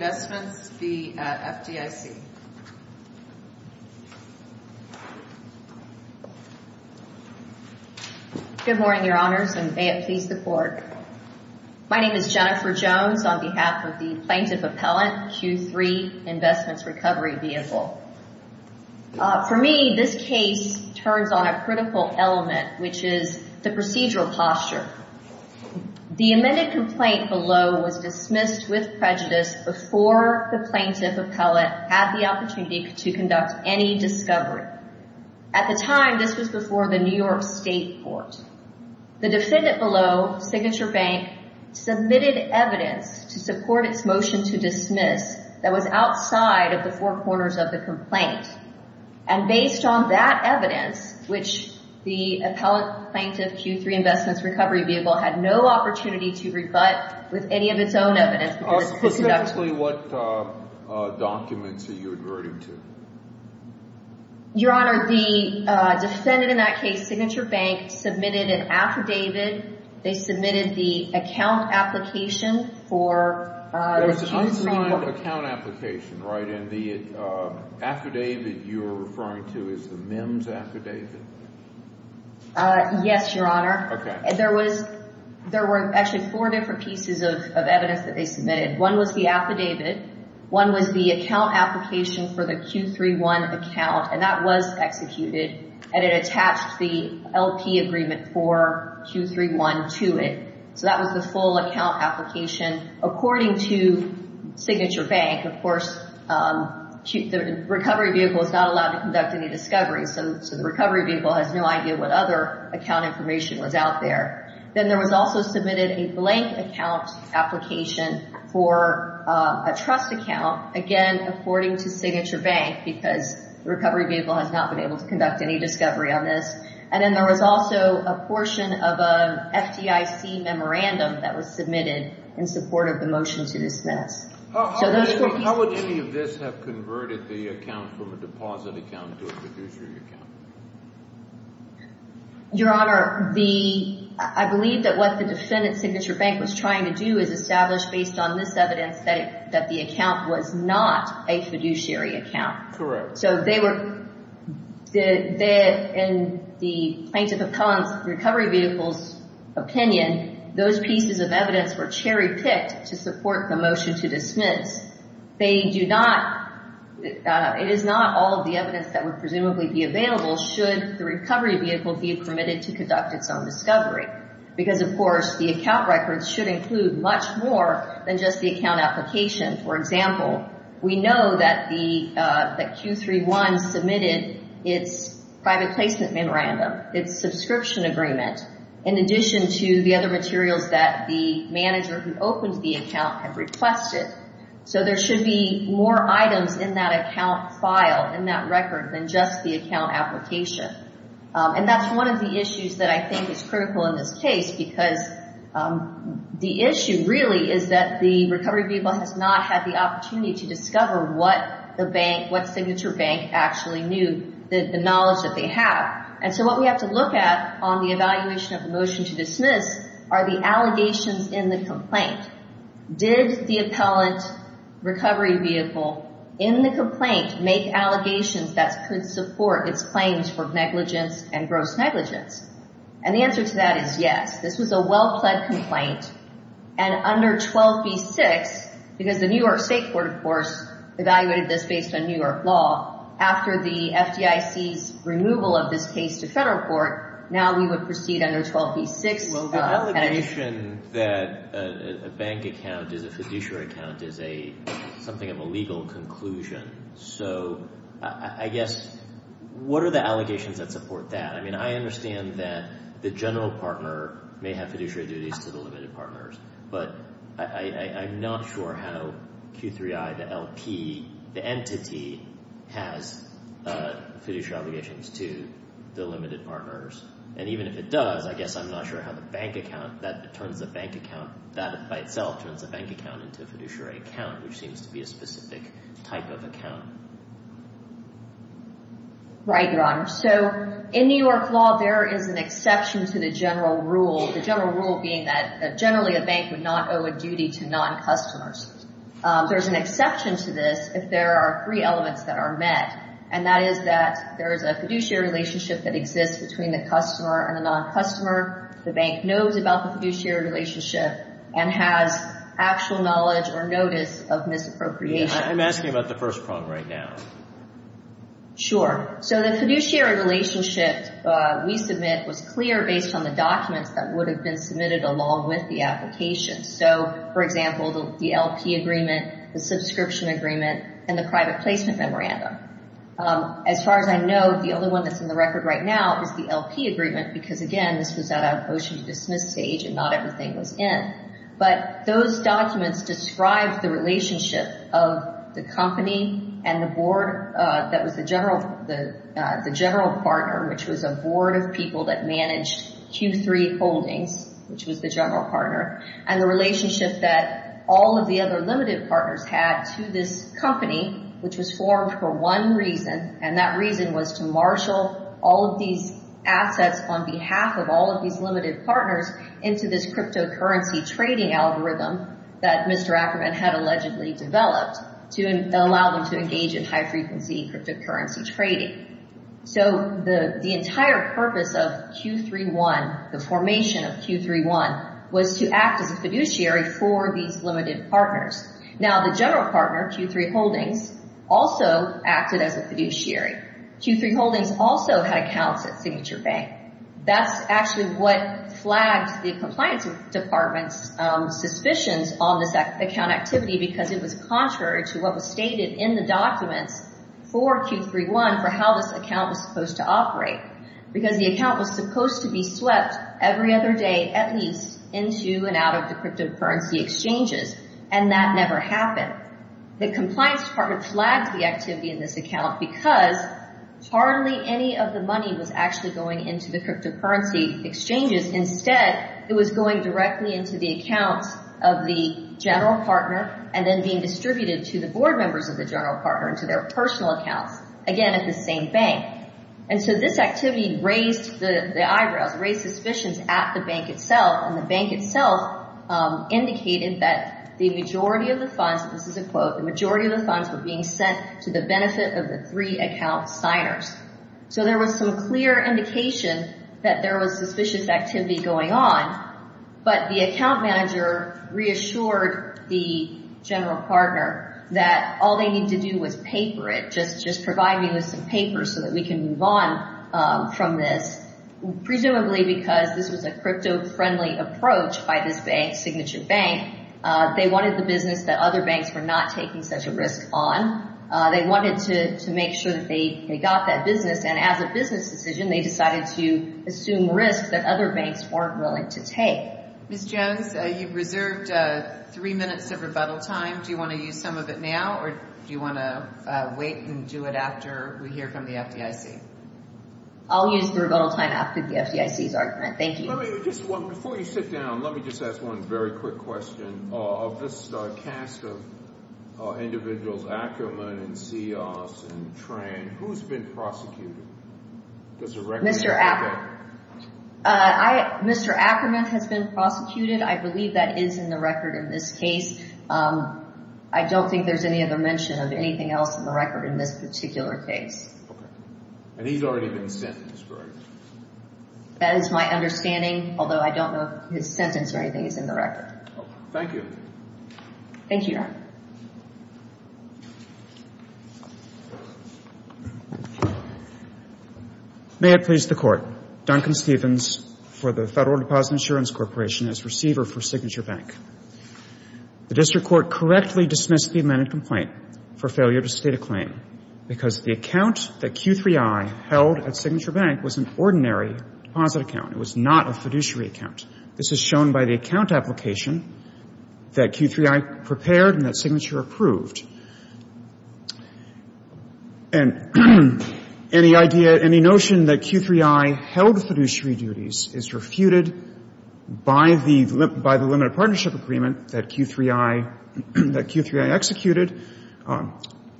Q3 Investments Recovery Vehicle, LLC or the plaintiff, appellate, had the opportunity to conduct any discovery. At the time, this was before the New York State Court. The defendant below, Signature Bank, submitted evidence to support its motion to dismiss that was outside of the four corners of the complaint. And based on that evidence, which the appellate, plaintiff, Q3 Investments Recovery Vehicle had no opportunity to rebut with any of its own evidence because it was conducted. Specifically, what documents are you adverting to? Your Honor, the defendant in that case, Signature Bank, submitted an affidavit. They submitted the account application for the Q3... It was an unsigned account application, right? And the affidavit you're referring to is the MIMS affidavit? Yes, Your Honor. Okay. There were actually four different pieces of evidence that they submitted. One was the affidavit. One was the account application for the Q3-1 account, and that was executed. And it attached the LP agreement for Q3-1 to it. So that was the full account application. According to Signature Bank, of course, the recovery vehicle is not allowed to conduct any discovery. So the recovery vehicle has no idea what other account information was out there. Then there was also submitted a blank account application for a trust account. Again, according to Signature Bank, because the recovery vehicle has not been able to conduct any discovery on this. And then there was also a portion of an FDIC memorandum that was submitted in support of the motion to dismiss. How would any of this have converted the account from a deposit account to a fiduciary account? Your Honor, I believe that what the defendant, Signature Bank, was trying to do is establish based on this evidence that the account was not a fiduciary account. Correct. So they were, in the Plaintiff of Collins' recovery vehicle's opinion, those pieces of motion to dismiss. They do not, it is not all of the evidence that would presumably be available should the recovery vehicle be permitted to conduct its own discovery. Because, of course, the account records should include much more than just the account application. For example, we know that Q3-1 submitted its private placement memorandum, its subscription agreement, in addition to the other materials that the manager who opened the account had requested. So there should be more items in that account file, in that record, than just the account application. And that's one of the issues that I think is critical in this case because the issue really is that the recovery vehicle has not had the opportunity to discover what the bank, what Signature Bank actually knew, the knowledge that they have. And so what we have to look at on the evaluation of the motion to dismiss are the allegations in the complaint. Did the appellant recovery vehicle, in the complaint, make allegations that could support its claims for negligence and gross negligence? And the answer to that is yes. This was a well-pled complaint. And under 12b-6, because the New York State Court, of course, evaluated this based on New York law, after the FDIC's removal of this case to federal court, now we would proceed under 12b-6. Well, the allegation that a bank account is a fiduciary account is something of a legal conclusion. So I guess what are the allegations that support that? I mean, I understand that the general partner may have fiduciary duties to the limited partners, but I'm not sure how Q3I, the LP, the entity, has fiduciary obligations to the limited partners. And even if it does, I guess I'm not sure how a bank account, that turns a bank account, that by itself turns a bank account into a fiduciary account, which seems to be a specific type of account. Right, Your Honor. So in New York law, there is an exception to the general rule, the general rule being that generally a bank would not owe a duty to non-customers. There's an exception to this if there are three elements that are met, and that is that there is a fiduciary relationship that exists between the customer and the non-customer. The bank knows about the fiduciary relationship and has actual knowledge or notice of misappropriation. I'm asking about the first prong right now. Sure. So the fiduciary relationship we submit was clear based on the documents that would have been submitted along with the application. So, for example, the LP agreement, the subscription agreement, and the private placement memorandum. As far as I know, the only one that's in the record right now is the LP agreement, because, again, this was at a motion to dismiss stage and not everything was in. But those documents describe the relationship of the company and the board that was the general partner, which was a board of people that managed Q3 holdings, which was the general partner, and the relationship that all of the other limited partners had to this company, which was formed for one reason, and that reason was to marshal all of these assets on behalf of all of these limited partners into this cryptocurrency trading algorithm that Mr. Ackerman had allegedly developed to allow them to engage in high-frequency cryptocurrency trading. So the entire purpose of Q3-1, the formation of Q3-1, was to act as a fiduciary for these limited partners. Now, the general partner, Q3 holdings, also acted as a fiduciary. Q3 holdings also had accounts at Signature Bank. That's actually what flagged the compliance department's suspicions on this account activity, because it was contrary to what was stated in the documents for Q3-1 for how this account was supposed to operate, because the account was supposed to be swept every other day at least into and out of the cryptocurrency exchanges, and that never happened. The compliance department flagged the activity in this account because hardly any of the money was actually going into the cryptocurrency exchanges. Instead, it was going directly into the accounts of the general partner and then being distributed to the board members of the general partner and to their personal accounts, again, at the same bank. And so this activity raised the eyebrows, raised suspicions at the bank itself, and the bank itself indicated that the majority of the funds, this is a quote, the majority of the funds were being sent to the benefit of the three account signers. So there was some clear indication that there was suspicious activity going on, but the account manager reassured the general partner that all they needed to do was paper it, just provide me with some papers so that we can move on from this, presumably because this was a crypto-friendly approach by this bank, Signature Bank. They wanted the business that other banks were not taking such a risk on. They wanted to make sure that they got that business, and as a business decision, they decided to assume risks that other banks weren't willing to take. Ms. Jones, you've reserved three minutes of rebuttal time. Do you want to use some of it now, or do you want to wait and do it after we hear from the FDIC? I'll use the rebuttal time after the FDIC's argument. Thank you. Before you sit down, let me just ask one very quick question. Of this cast of individuals, Ackerman and Seoss and Tran, who's been prosecuted? Mr. Ackerman has been prosecuted. I believe that is in the record in this case. I don't think there's any other mention of anything else in the record in this particular case. And he's already been sentenced, correct? That is my understanding, although I don't know if his sentence or anything is in the record. Thank you. Thank you, Your Honor. May it please the Court. Duncan Stevens for the Federal Deposit Insurance Corporation as receiver for Signature Bank. The district court correctly dismissed the amended complaint for failure to state a claim because the account that Q3I held at Signature Bank was an ordinary deposit account. It was not a fiduciary account. This is shown by the account application that Q3I prepared and that Signature approved. And any idea, any notion that Q3I held fiduciary duties is refuted by the limited partnership agreement that Q3I executed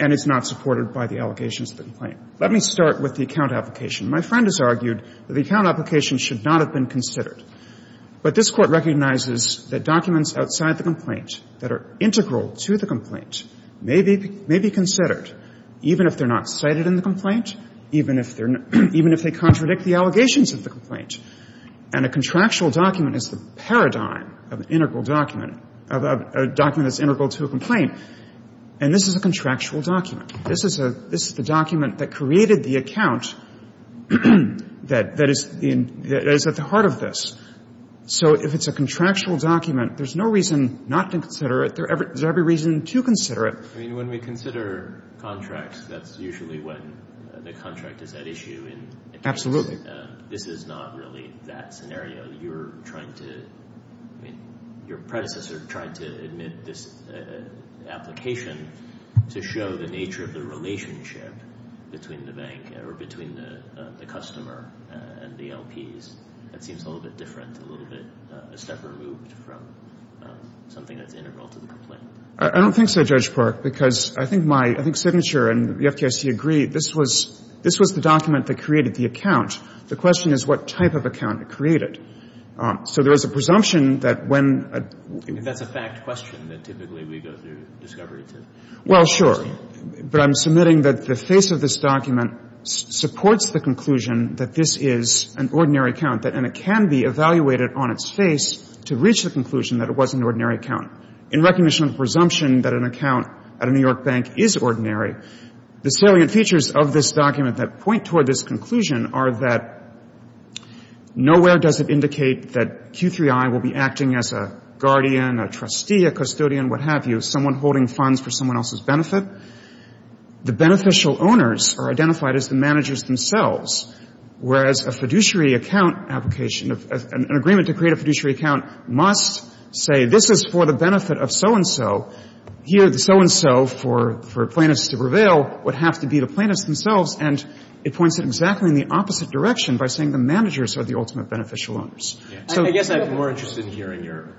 and is not supported by the allegations of the complaint. Let me start with the account application. My friend has argued that the account application should not have been considered. But this Court recognizes that documents outside the complaint that are integral to the complaint may be considered, even if they're not cited in the complaint, even if they're not, even if they contradict the allegations of the complaint. And a contractual document is the paradigm of an integral document, of a document that's integral to a complaint. And this is a contractual document. This is the document that created the account that is at the heart of this. So if it's a contractual document, there's no reason not to consider it. There's every reason to consider it. I mean, when we consider contracts, that's usually when the contract is at issue. Absolutely. This is not really that scenario. You're trying to, I mean, your predecessor tried to admit this application to show the nature of the relationship between the bank or between the customer and the LPs. That seems a little bit different, a little bit, a step removed from something that's an integral to the complaint. I don't think so, Judge Park, because I think my, I think Signature and the FGIC agree this was, this was the document that created the account. The question is what type of account it created. So there is a presumption that when a... If that's a fact question that typically we go through discovery to... Well, sure. But I'm submitting that the face of this document supports the conclusion that this is an ordinary account, and it can be evaluated on its face to reach the conclusion that it was an ordinary account. In recognition of the presumption that an account at a New York bank is ordinary, the salient features of this document that point toward this conclusion are that nowhere does it indicate that Q3I will be acting as a guardian, a trustee, a custodian, what have you, someone holding funds for someone else's benefit. The beneficial owners are identified as the managers themselves, whereas a fiduciary account application, an agreement to create a fiduciary account must say this is for the benefit of so-and-so. Here the so-and-so, for plaintiffs to prevail, would have to be the plaintiffs themselves, and it points it exactly in the opposite direction by saying the managers are the ultimate beneficial owners. I guess I'm more interested in hearing your...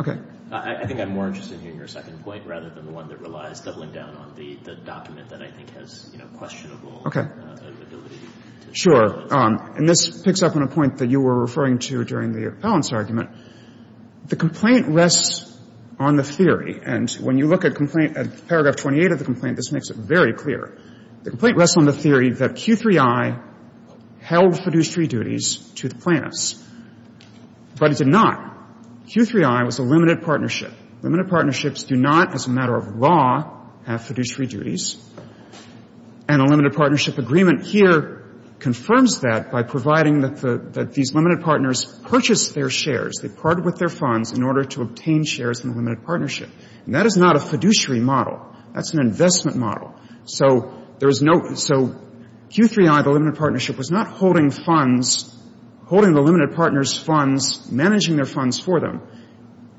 Okay. I think I'm more interested in hearing your second point rather than the one that relies doubling down on the document that I think has, you know, questionable ability to... Sure. And this picks up on a point that you were referring to during the appellant's argument. The complaint rests on the theory, and when you look at complaint at paragraph 28 of the complaint, this makes it very clear. The complaint rests on the theory that Q3I held fiduciary duties to the plaintiffs, but it did not. Q3I was a limited partnership. Limited partnerships do not, as a matter of law, have fiduciary duties. And a limited partnership agreement here confirms that by providing that these limited partners purchased their shares. They parted with their funds in order to obtain shares in the limited partnership. And that is not a fiduciary model. That's an investment model. So there is no so Q3I, the limited partnership, was not holding funds, holding the limited partners' funds, managing their funds for them.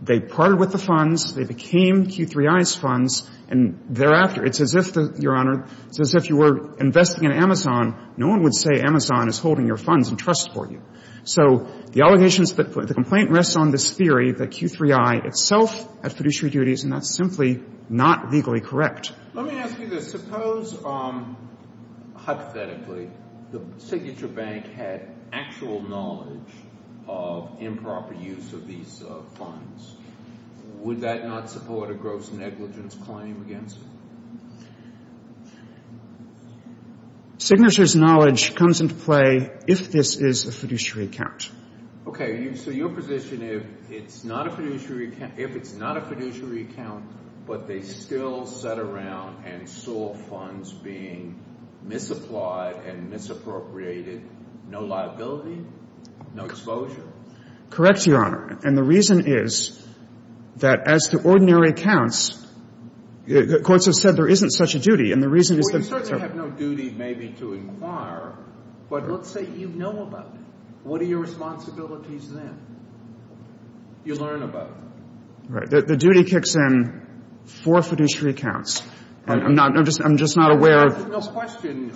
They parted with the funds. They became Q3I's funds. And thereafter, it's as if, Your Honor, it's as if you were investing in Amazon. No one would say Amazon is holding your funds and trusts for you. So the allegations that the complaint rests on this theory that Q3I itself had fiduciary duties, and that's simply not legally correct. Let me ask you this. Suppose, hypothetically, the signature bank had actual knowledge of improper use of these funds. Would that not support a gross negligence claim against it? Signature's knowledge comes into play if this is a fiduciary account. Okay. So your position, if it's not a fiduciary account, if it's not a fiduciary account, but they still sat around and saw funds being misapplied and misappropriated, no liability, no exposure? Correct, Your Honor. And the reason is that, as to ordinary accounts, the courts have said there isn't such a duty. And the reason is that they're... Well, you certainly have no duty, maybe, to inquire. But let's say you know about it. What are your responsibilities then? You learn about it. Right. The duty kicks in for fiduciary accounts. And I'm just not aware of... There's no question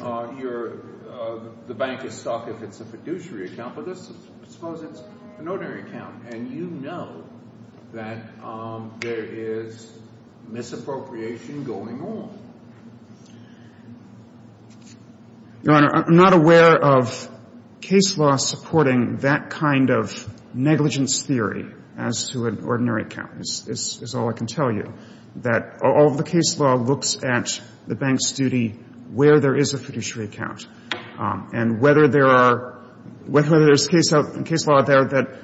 the bank is stuck if it's a fiduciary account. But let's suppose it's an ordinary account, and you know that there is misappropriation going on. Your Honor, I'm not aware of case law supporting that kind of negligence theory as to an ordinary account, is all I can tell you, that all of the case law looks at the bank's duty where there is a fiduciary account. And whether there are — whether there's case law out there that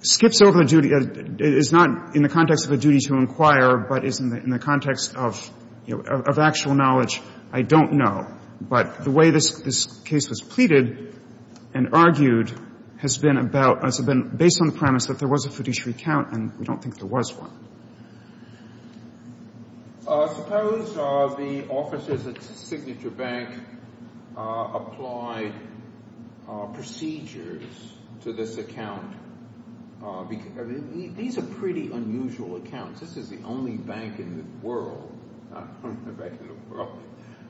skips over the duty — is not in the context of a duty to inquire, but is in the context of actual knowledge, I don't know. But the way this case was pleaded and argued has been about — has been based on the premise that there was a fiduciary account, and we don't think there was one. Suppose the officers at Signature Bank applied procedures to this account. These are pretty unusual accounts. This is the only bank in the world — not only the bank in the world.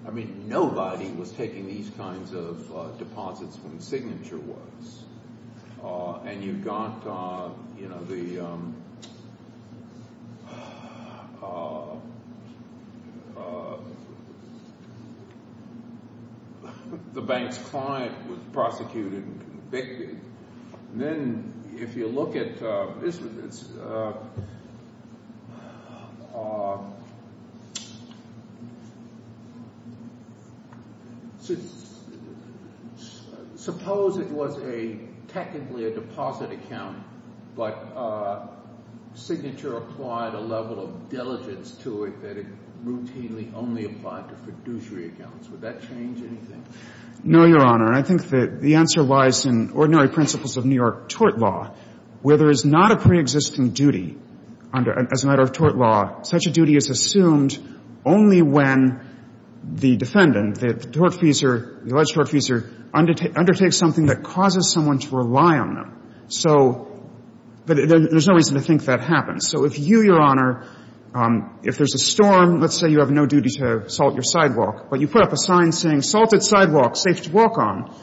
I mean, nobody was taking these kinds of deposits when Signature was. And you've got the bank's client was prosecuted and convicted. And then if you look at — suppose it was a — technically a deposit account, but Signature applied a level of diligence to it that it routinely only applied to fiduciary accounts. Would that change anything? No, Your Honor. And I think that the answer lies in ordinary principles of New York tort law, where there is not a preexisting duty under — as a matter of tort law, such a duty is assumed only when the defendant, the tortfeasor, the alleged tortfeasor, undertakes something that causes someone to rely on them. So — but there's no reason to think that happens. So if you, Your Honor — if there's a storm, let's say you have no duty to salt your sidewalk, but you put up a sign saying, salted sidewalk, safe to walk on,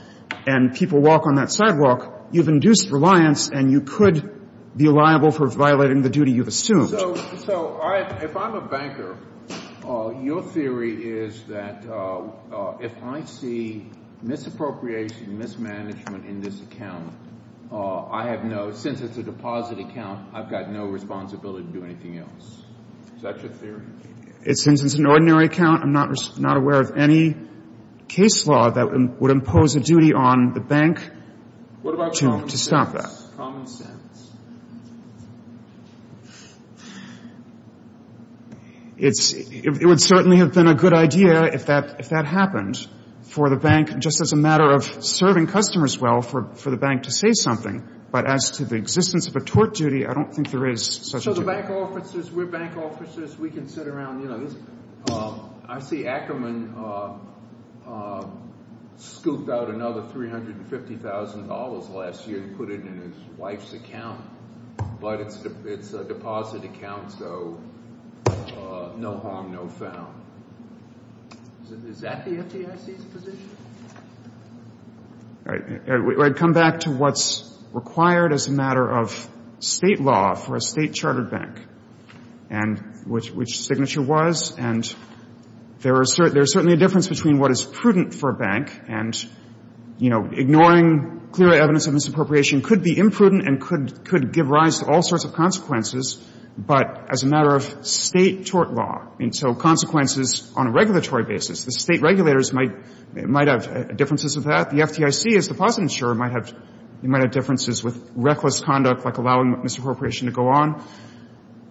and people walk on that sidewalk, you've induced reliance, and you could be liable for violating the duty you've assumed. So if I'm a banker, your theory is that if I see misappropriation, mismanagement in this account, I have no — since it's a deposit account, I've got no responsibility to do anything else. Is that your theory? It's — since it's an ordinary account, I'm not aware of any case law that would impose a duty on the bank to stop that. What about common sense? Common sense. It's — it would certainly have been a good idea if that — if that happened for the bank, just as a matter of serving customers well for the bank to say something. But as to the existence of a tort duty, I don't think there is such a duty. So the bank officers, we're bank officers. We can sit around, you know, this — I see Ackerman scooped out another $350,000 last year and put it in his wife's account, but it's a deposit account, so no harm, no foul. Is that the FDIC's position? All right. I'd come back to what's required as a matter of State law for a State-chartered bank and which signature was. And there are — there's certainly a difference between what is prudent for a bank and, you know, ignoring clear evidence of misappropriation could be imprudent and could give rise to all sorts of consequences, but as a matter of State-tort law, and so consequences on a regulatory basis. The State regulators might have differences of that. The FDIC, as the deposit insurer, might have differences with reckless conduct like allowing misappropriation to go on.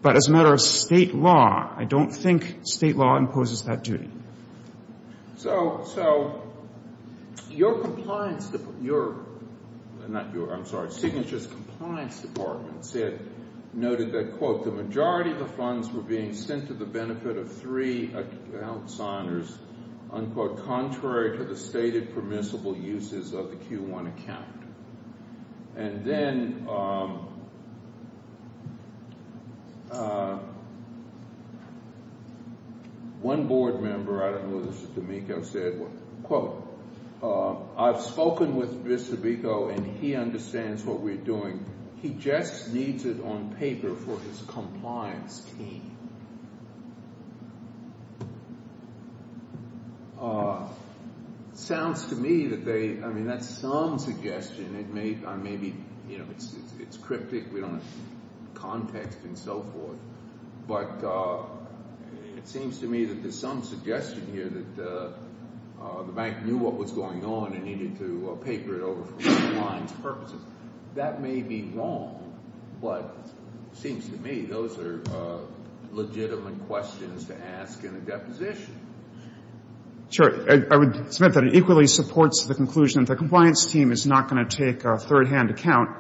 But as a matter of State law, I don't think State law imposes that duty. So — so your compliance — your — not your — I'm sorry — Signature's compliance department said — noted that, quote, the majority of the funds were being sent to the benefit of three account signers, unquote, contrary to the stated permissible uses of the Q1 account. And then one board member — I don't know if this is D'Amico — said, quote, I've spoken with Mr. D'Amico and he understands what we're doing. He just needs it on paper for his compliance team. Sounds to me that they — I mean, that's some suggestion. It may — maybe, you know, it's cryptic. We don't have context and so forth. But it seems to me that there's some suggestion here that the bank knew what was going on and needed to paper it over for compliance purposes. That may be wrong, but it seems to me those are legitimate questions to ask in a deposition. I would — it's meant that it equally supports the conclusion that the compliance team is not going to take a third-hand account,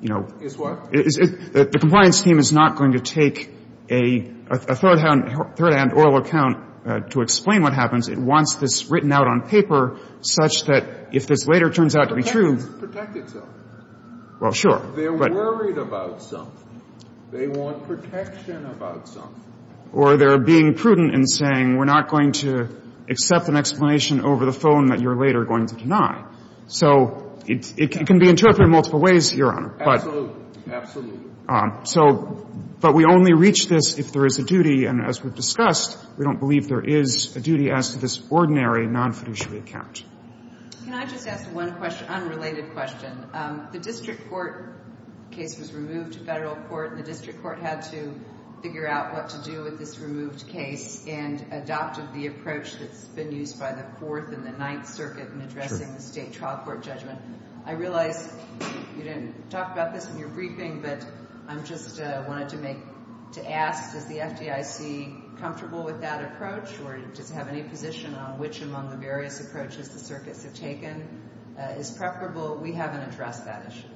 you know — Is what? The compliance team is not going to take a third-hand oral account to explain what happens. It wants this written out on paper such that if this later turns out to be true — It doesn't protect itself. Well, sure. They're worried about something. They want protection about something. Or they're being prudent in saying we're not going to accept an explanation over the phone that you're later going to deny. So it can be interpreted in multiple ways, Your Honor. Absolutely. Absolutely. So — but we only reach this if there is a duty, and as we've discussed, we don't believe there is a duty as to this ordinary non-fiduciary account. Can I just ask one unrelated question? The district court case was removed to federal court, and the district court had to figure out what to do with this removed case and adopted the approach that's been used by the Fourth and the Ninth Circuit in addressing the state trial court judgment. I realize you didn't talk about this in your briefing, but I just wanted to ask, is the FDIC comfortable with that approach, or does it have any position on which among the various approaches the circuits have taken is preferable? We haven't addressed that issue.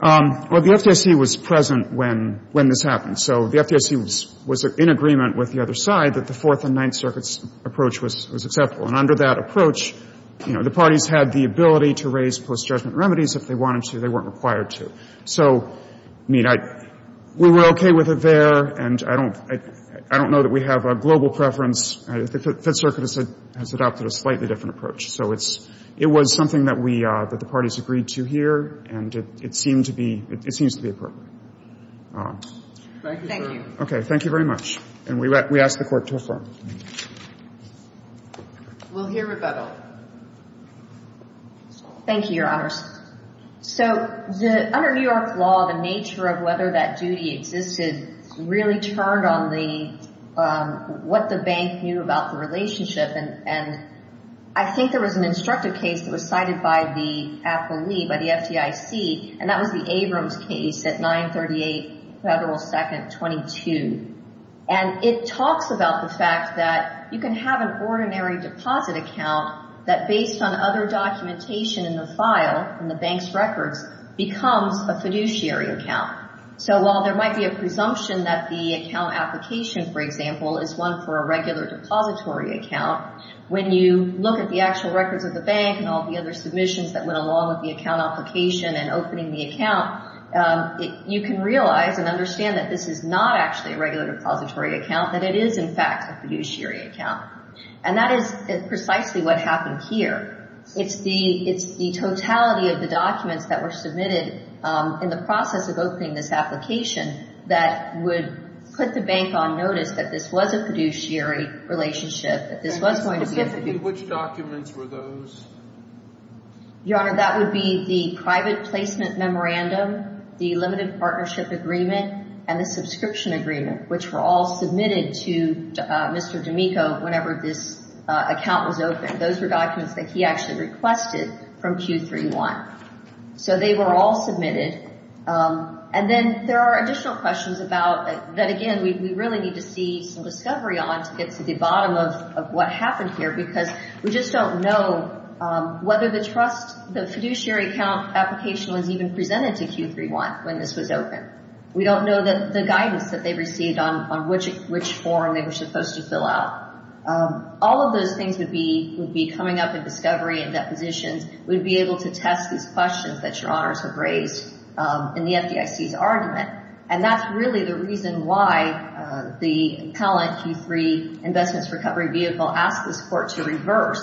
Well, the FDIC was present when this happened. So the FDIC was in agreement with the other side that the Fourth and Ninth Circuit's approach was acceptable. And under that approach, you know, the parties had the ability to raise post-judgment remedies if they wanted to, they weren't required to. So, I mean, we were okay with it there, and I don't know that we have a global preference. The Fifth Circuit has adopted a slightly different approach. So it's – it was something that we – that the parties agreed to here, and it seemed to be – it seems to be appropriate. Thank you, sir. Thank you. Okay. Thank you very much. And we ask the Court to affirm. We'll hear rebuttal. Thank you, Your Honors. So under New York law, the nature of whether that duty existed really turned on the – what the bank knew about the relationship. And I think there was an instructive case that was cited by the appellee, by the FDIC, and that was the Abrams case at 938 Federal 2nd 22. And it talks about the fact that you can have an ordinary deposit account that, based on other documentation in the file, in the bank's records, becomes a fiduciary account. So while there might be a presumption that the account application, for example, is one for a regular depository account, when you look at the actual records of the bank and all the other submissions that went along with the account application and opening the account, you can realize and understand that this is not actually a regular depository account, that it is, in fact, a fiduciary account. And that is precisely what happened here. It's the totality of the documents that were submitted in the process of opening this application that would put the bank on notice that this was a fiduciary relationship, that this was going to be a fiduciary. And specifically, which documents were those? Your Honor, that would be the private placement memorandum, the limited partnership agreement, and the subscription agreement, which were all submitted to Mr. D'Amico whenever this account was opened. Those were documents that he actually requested from Q3-1. So they were all submitted. And then there are additional questions that, again, we really need to see some discovery on to get to the bottom of what happened here, because we just don't know whether the fiduciary account application was even presented to Q3-1 when this was opened. We don't know the guidance that they received on which form they were supposed to fill out. All of those things would be coming up in discovery and depositions. We'd be able to test these questions that Your Honors have raised in the FDIC's argument. And that's really the reason why the appellant, Q3 Investments Recovery Vehicle, asked this Court to reverse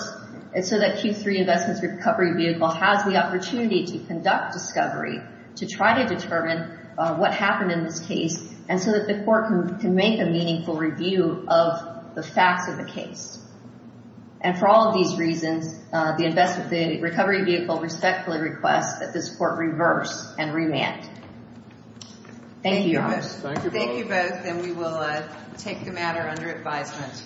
so that Q3 Investments Recovery Vehicle has the opportunity to conduct discovery to try to determine what happened in this case and so that the Court can make a meaningful review of the facts of the case. And for all of these reasons, the Recovery Vehicle respectfully requests that this Court reverse and remand. Thank you, Your Honors. Thank you both, and we will take the matter under advisement.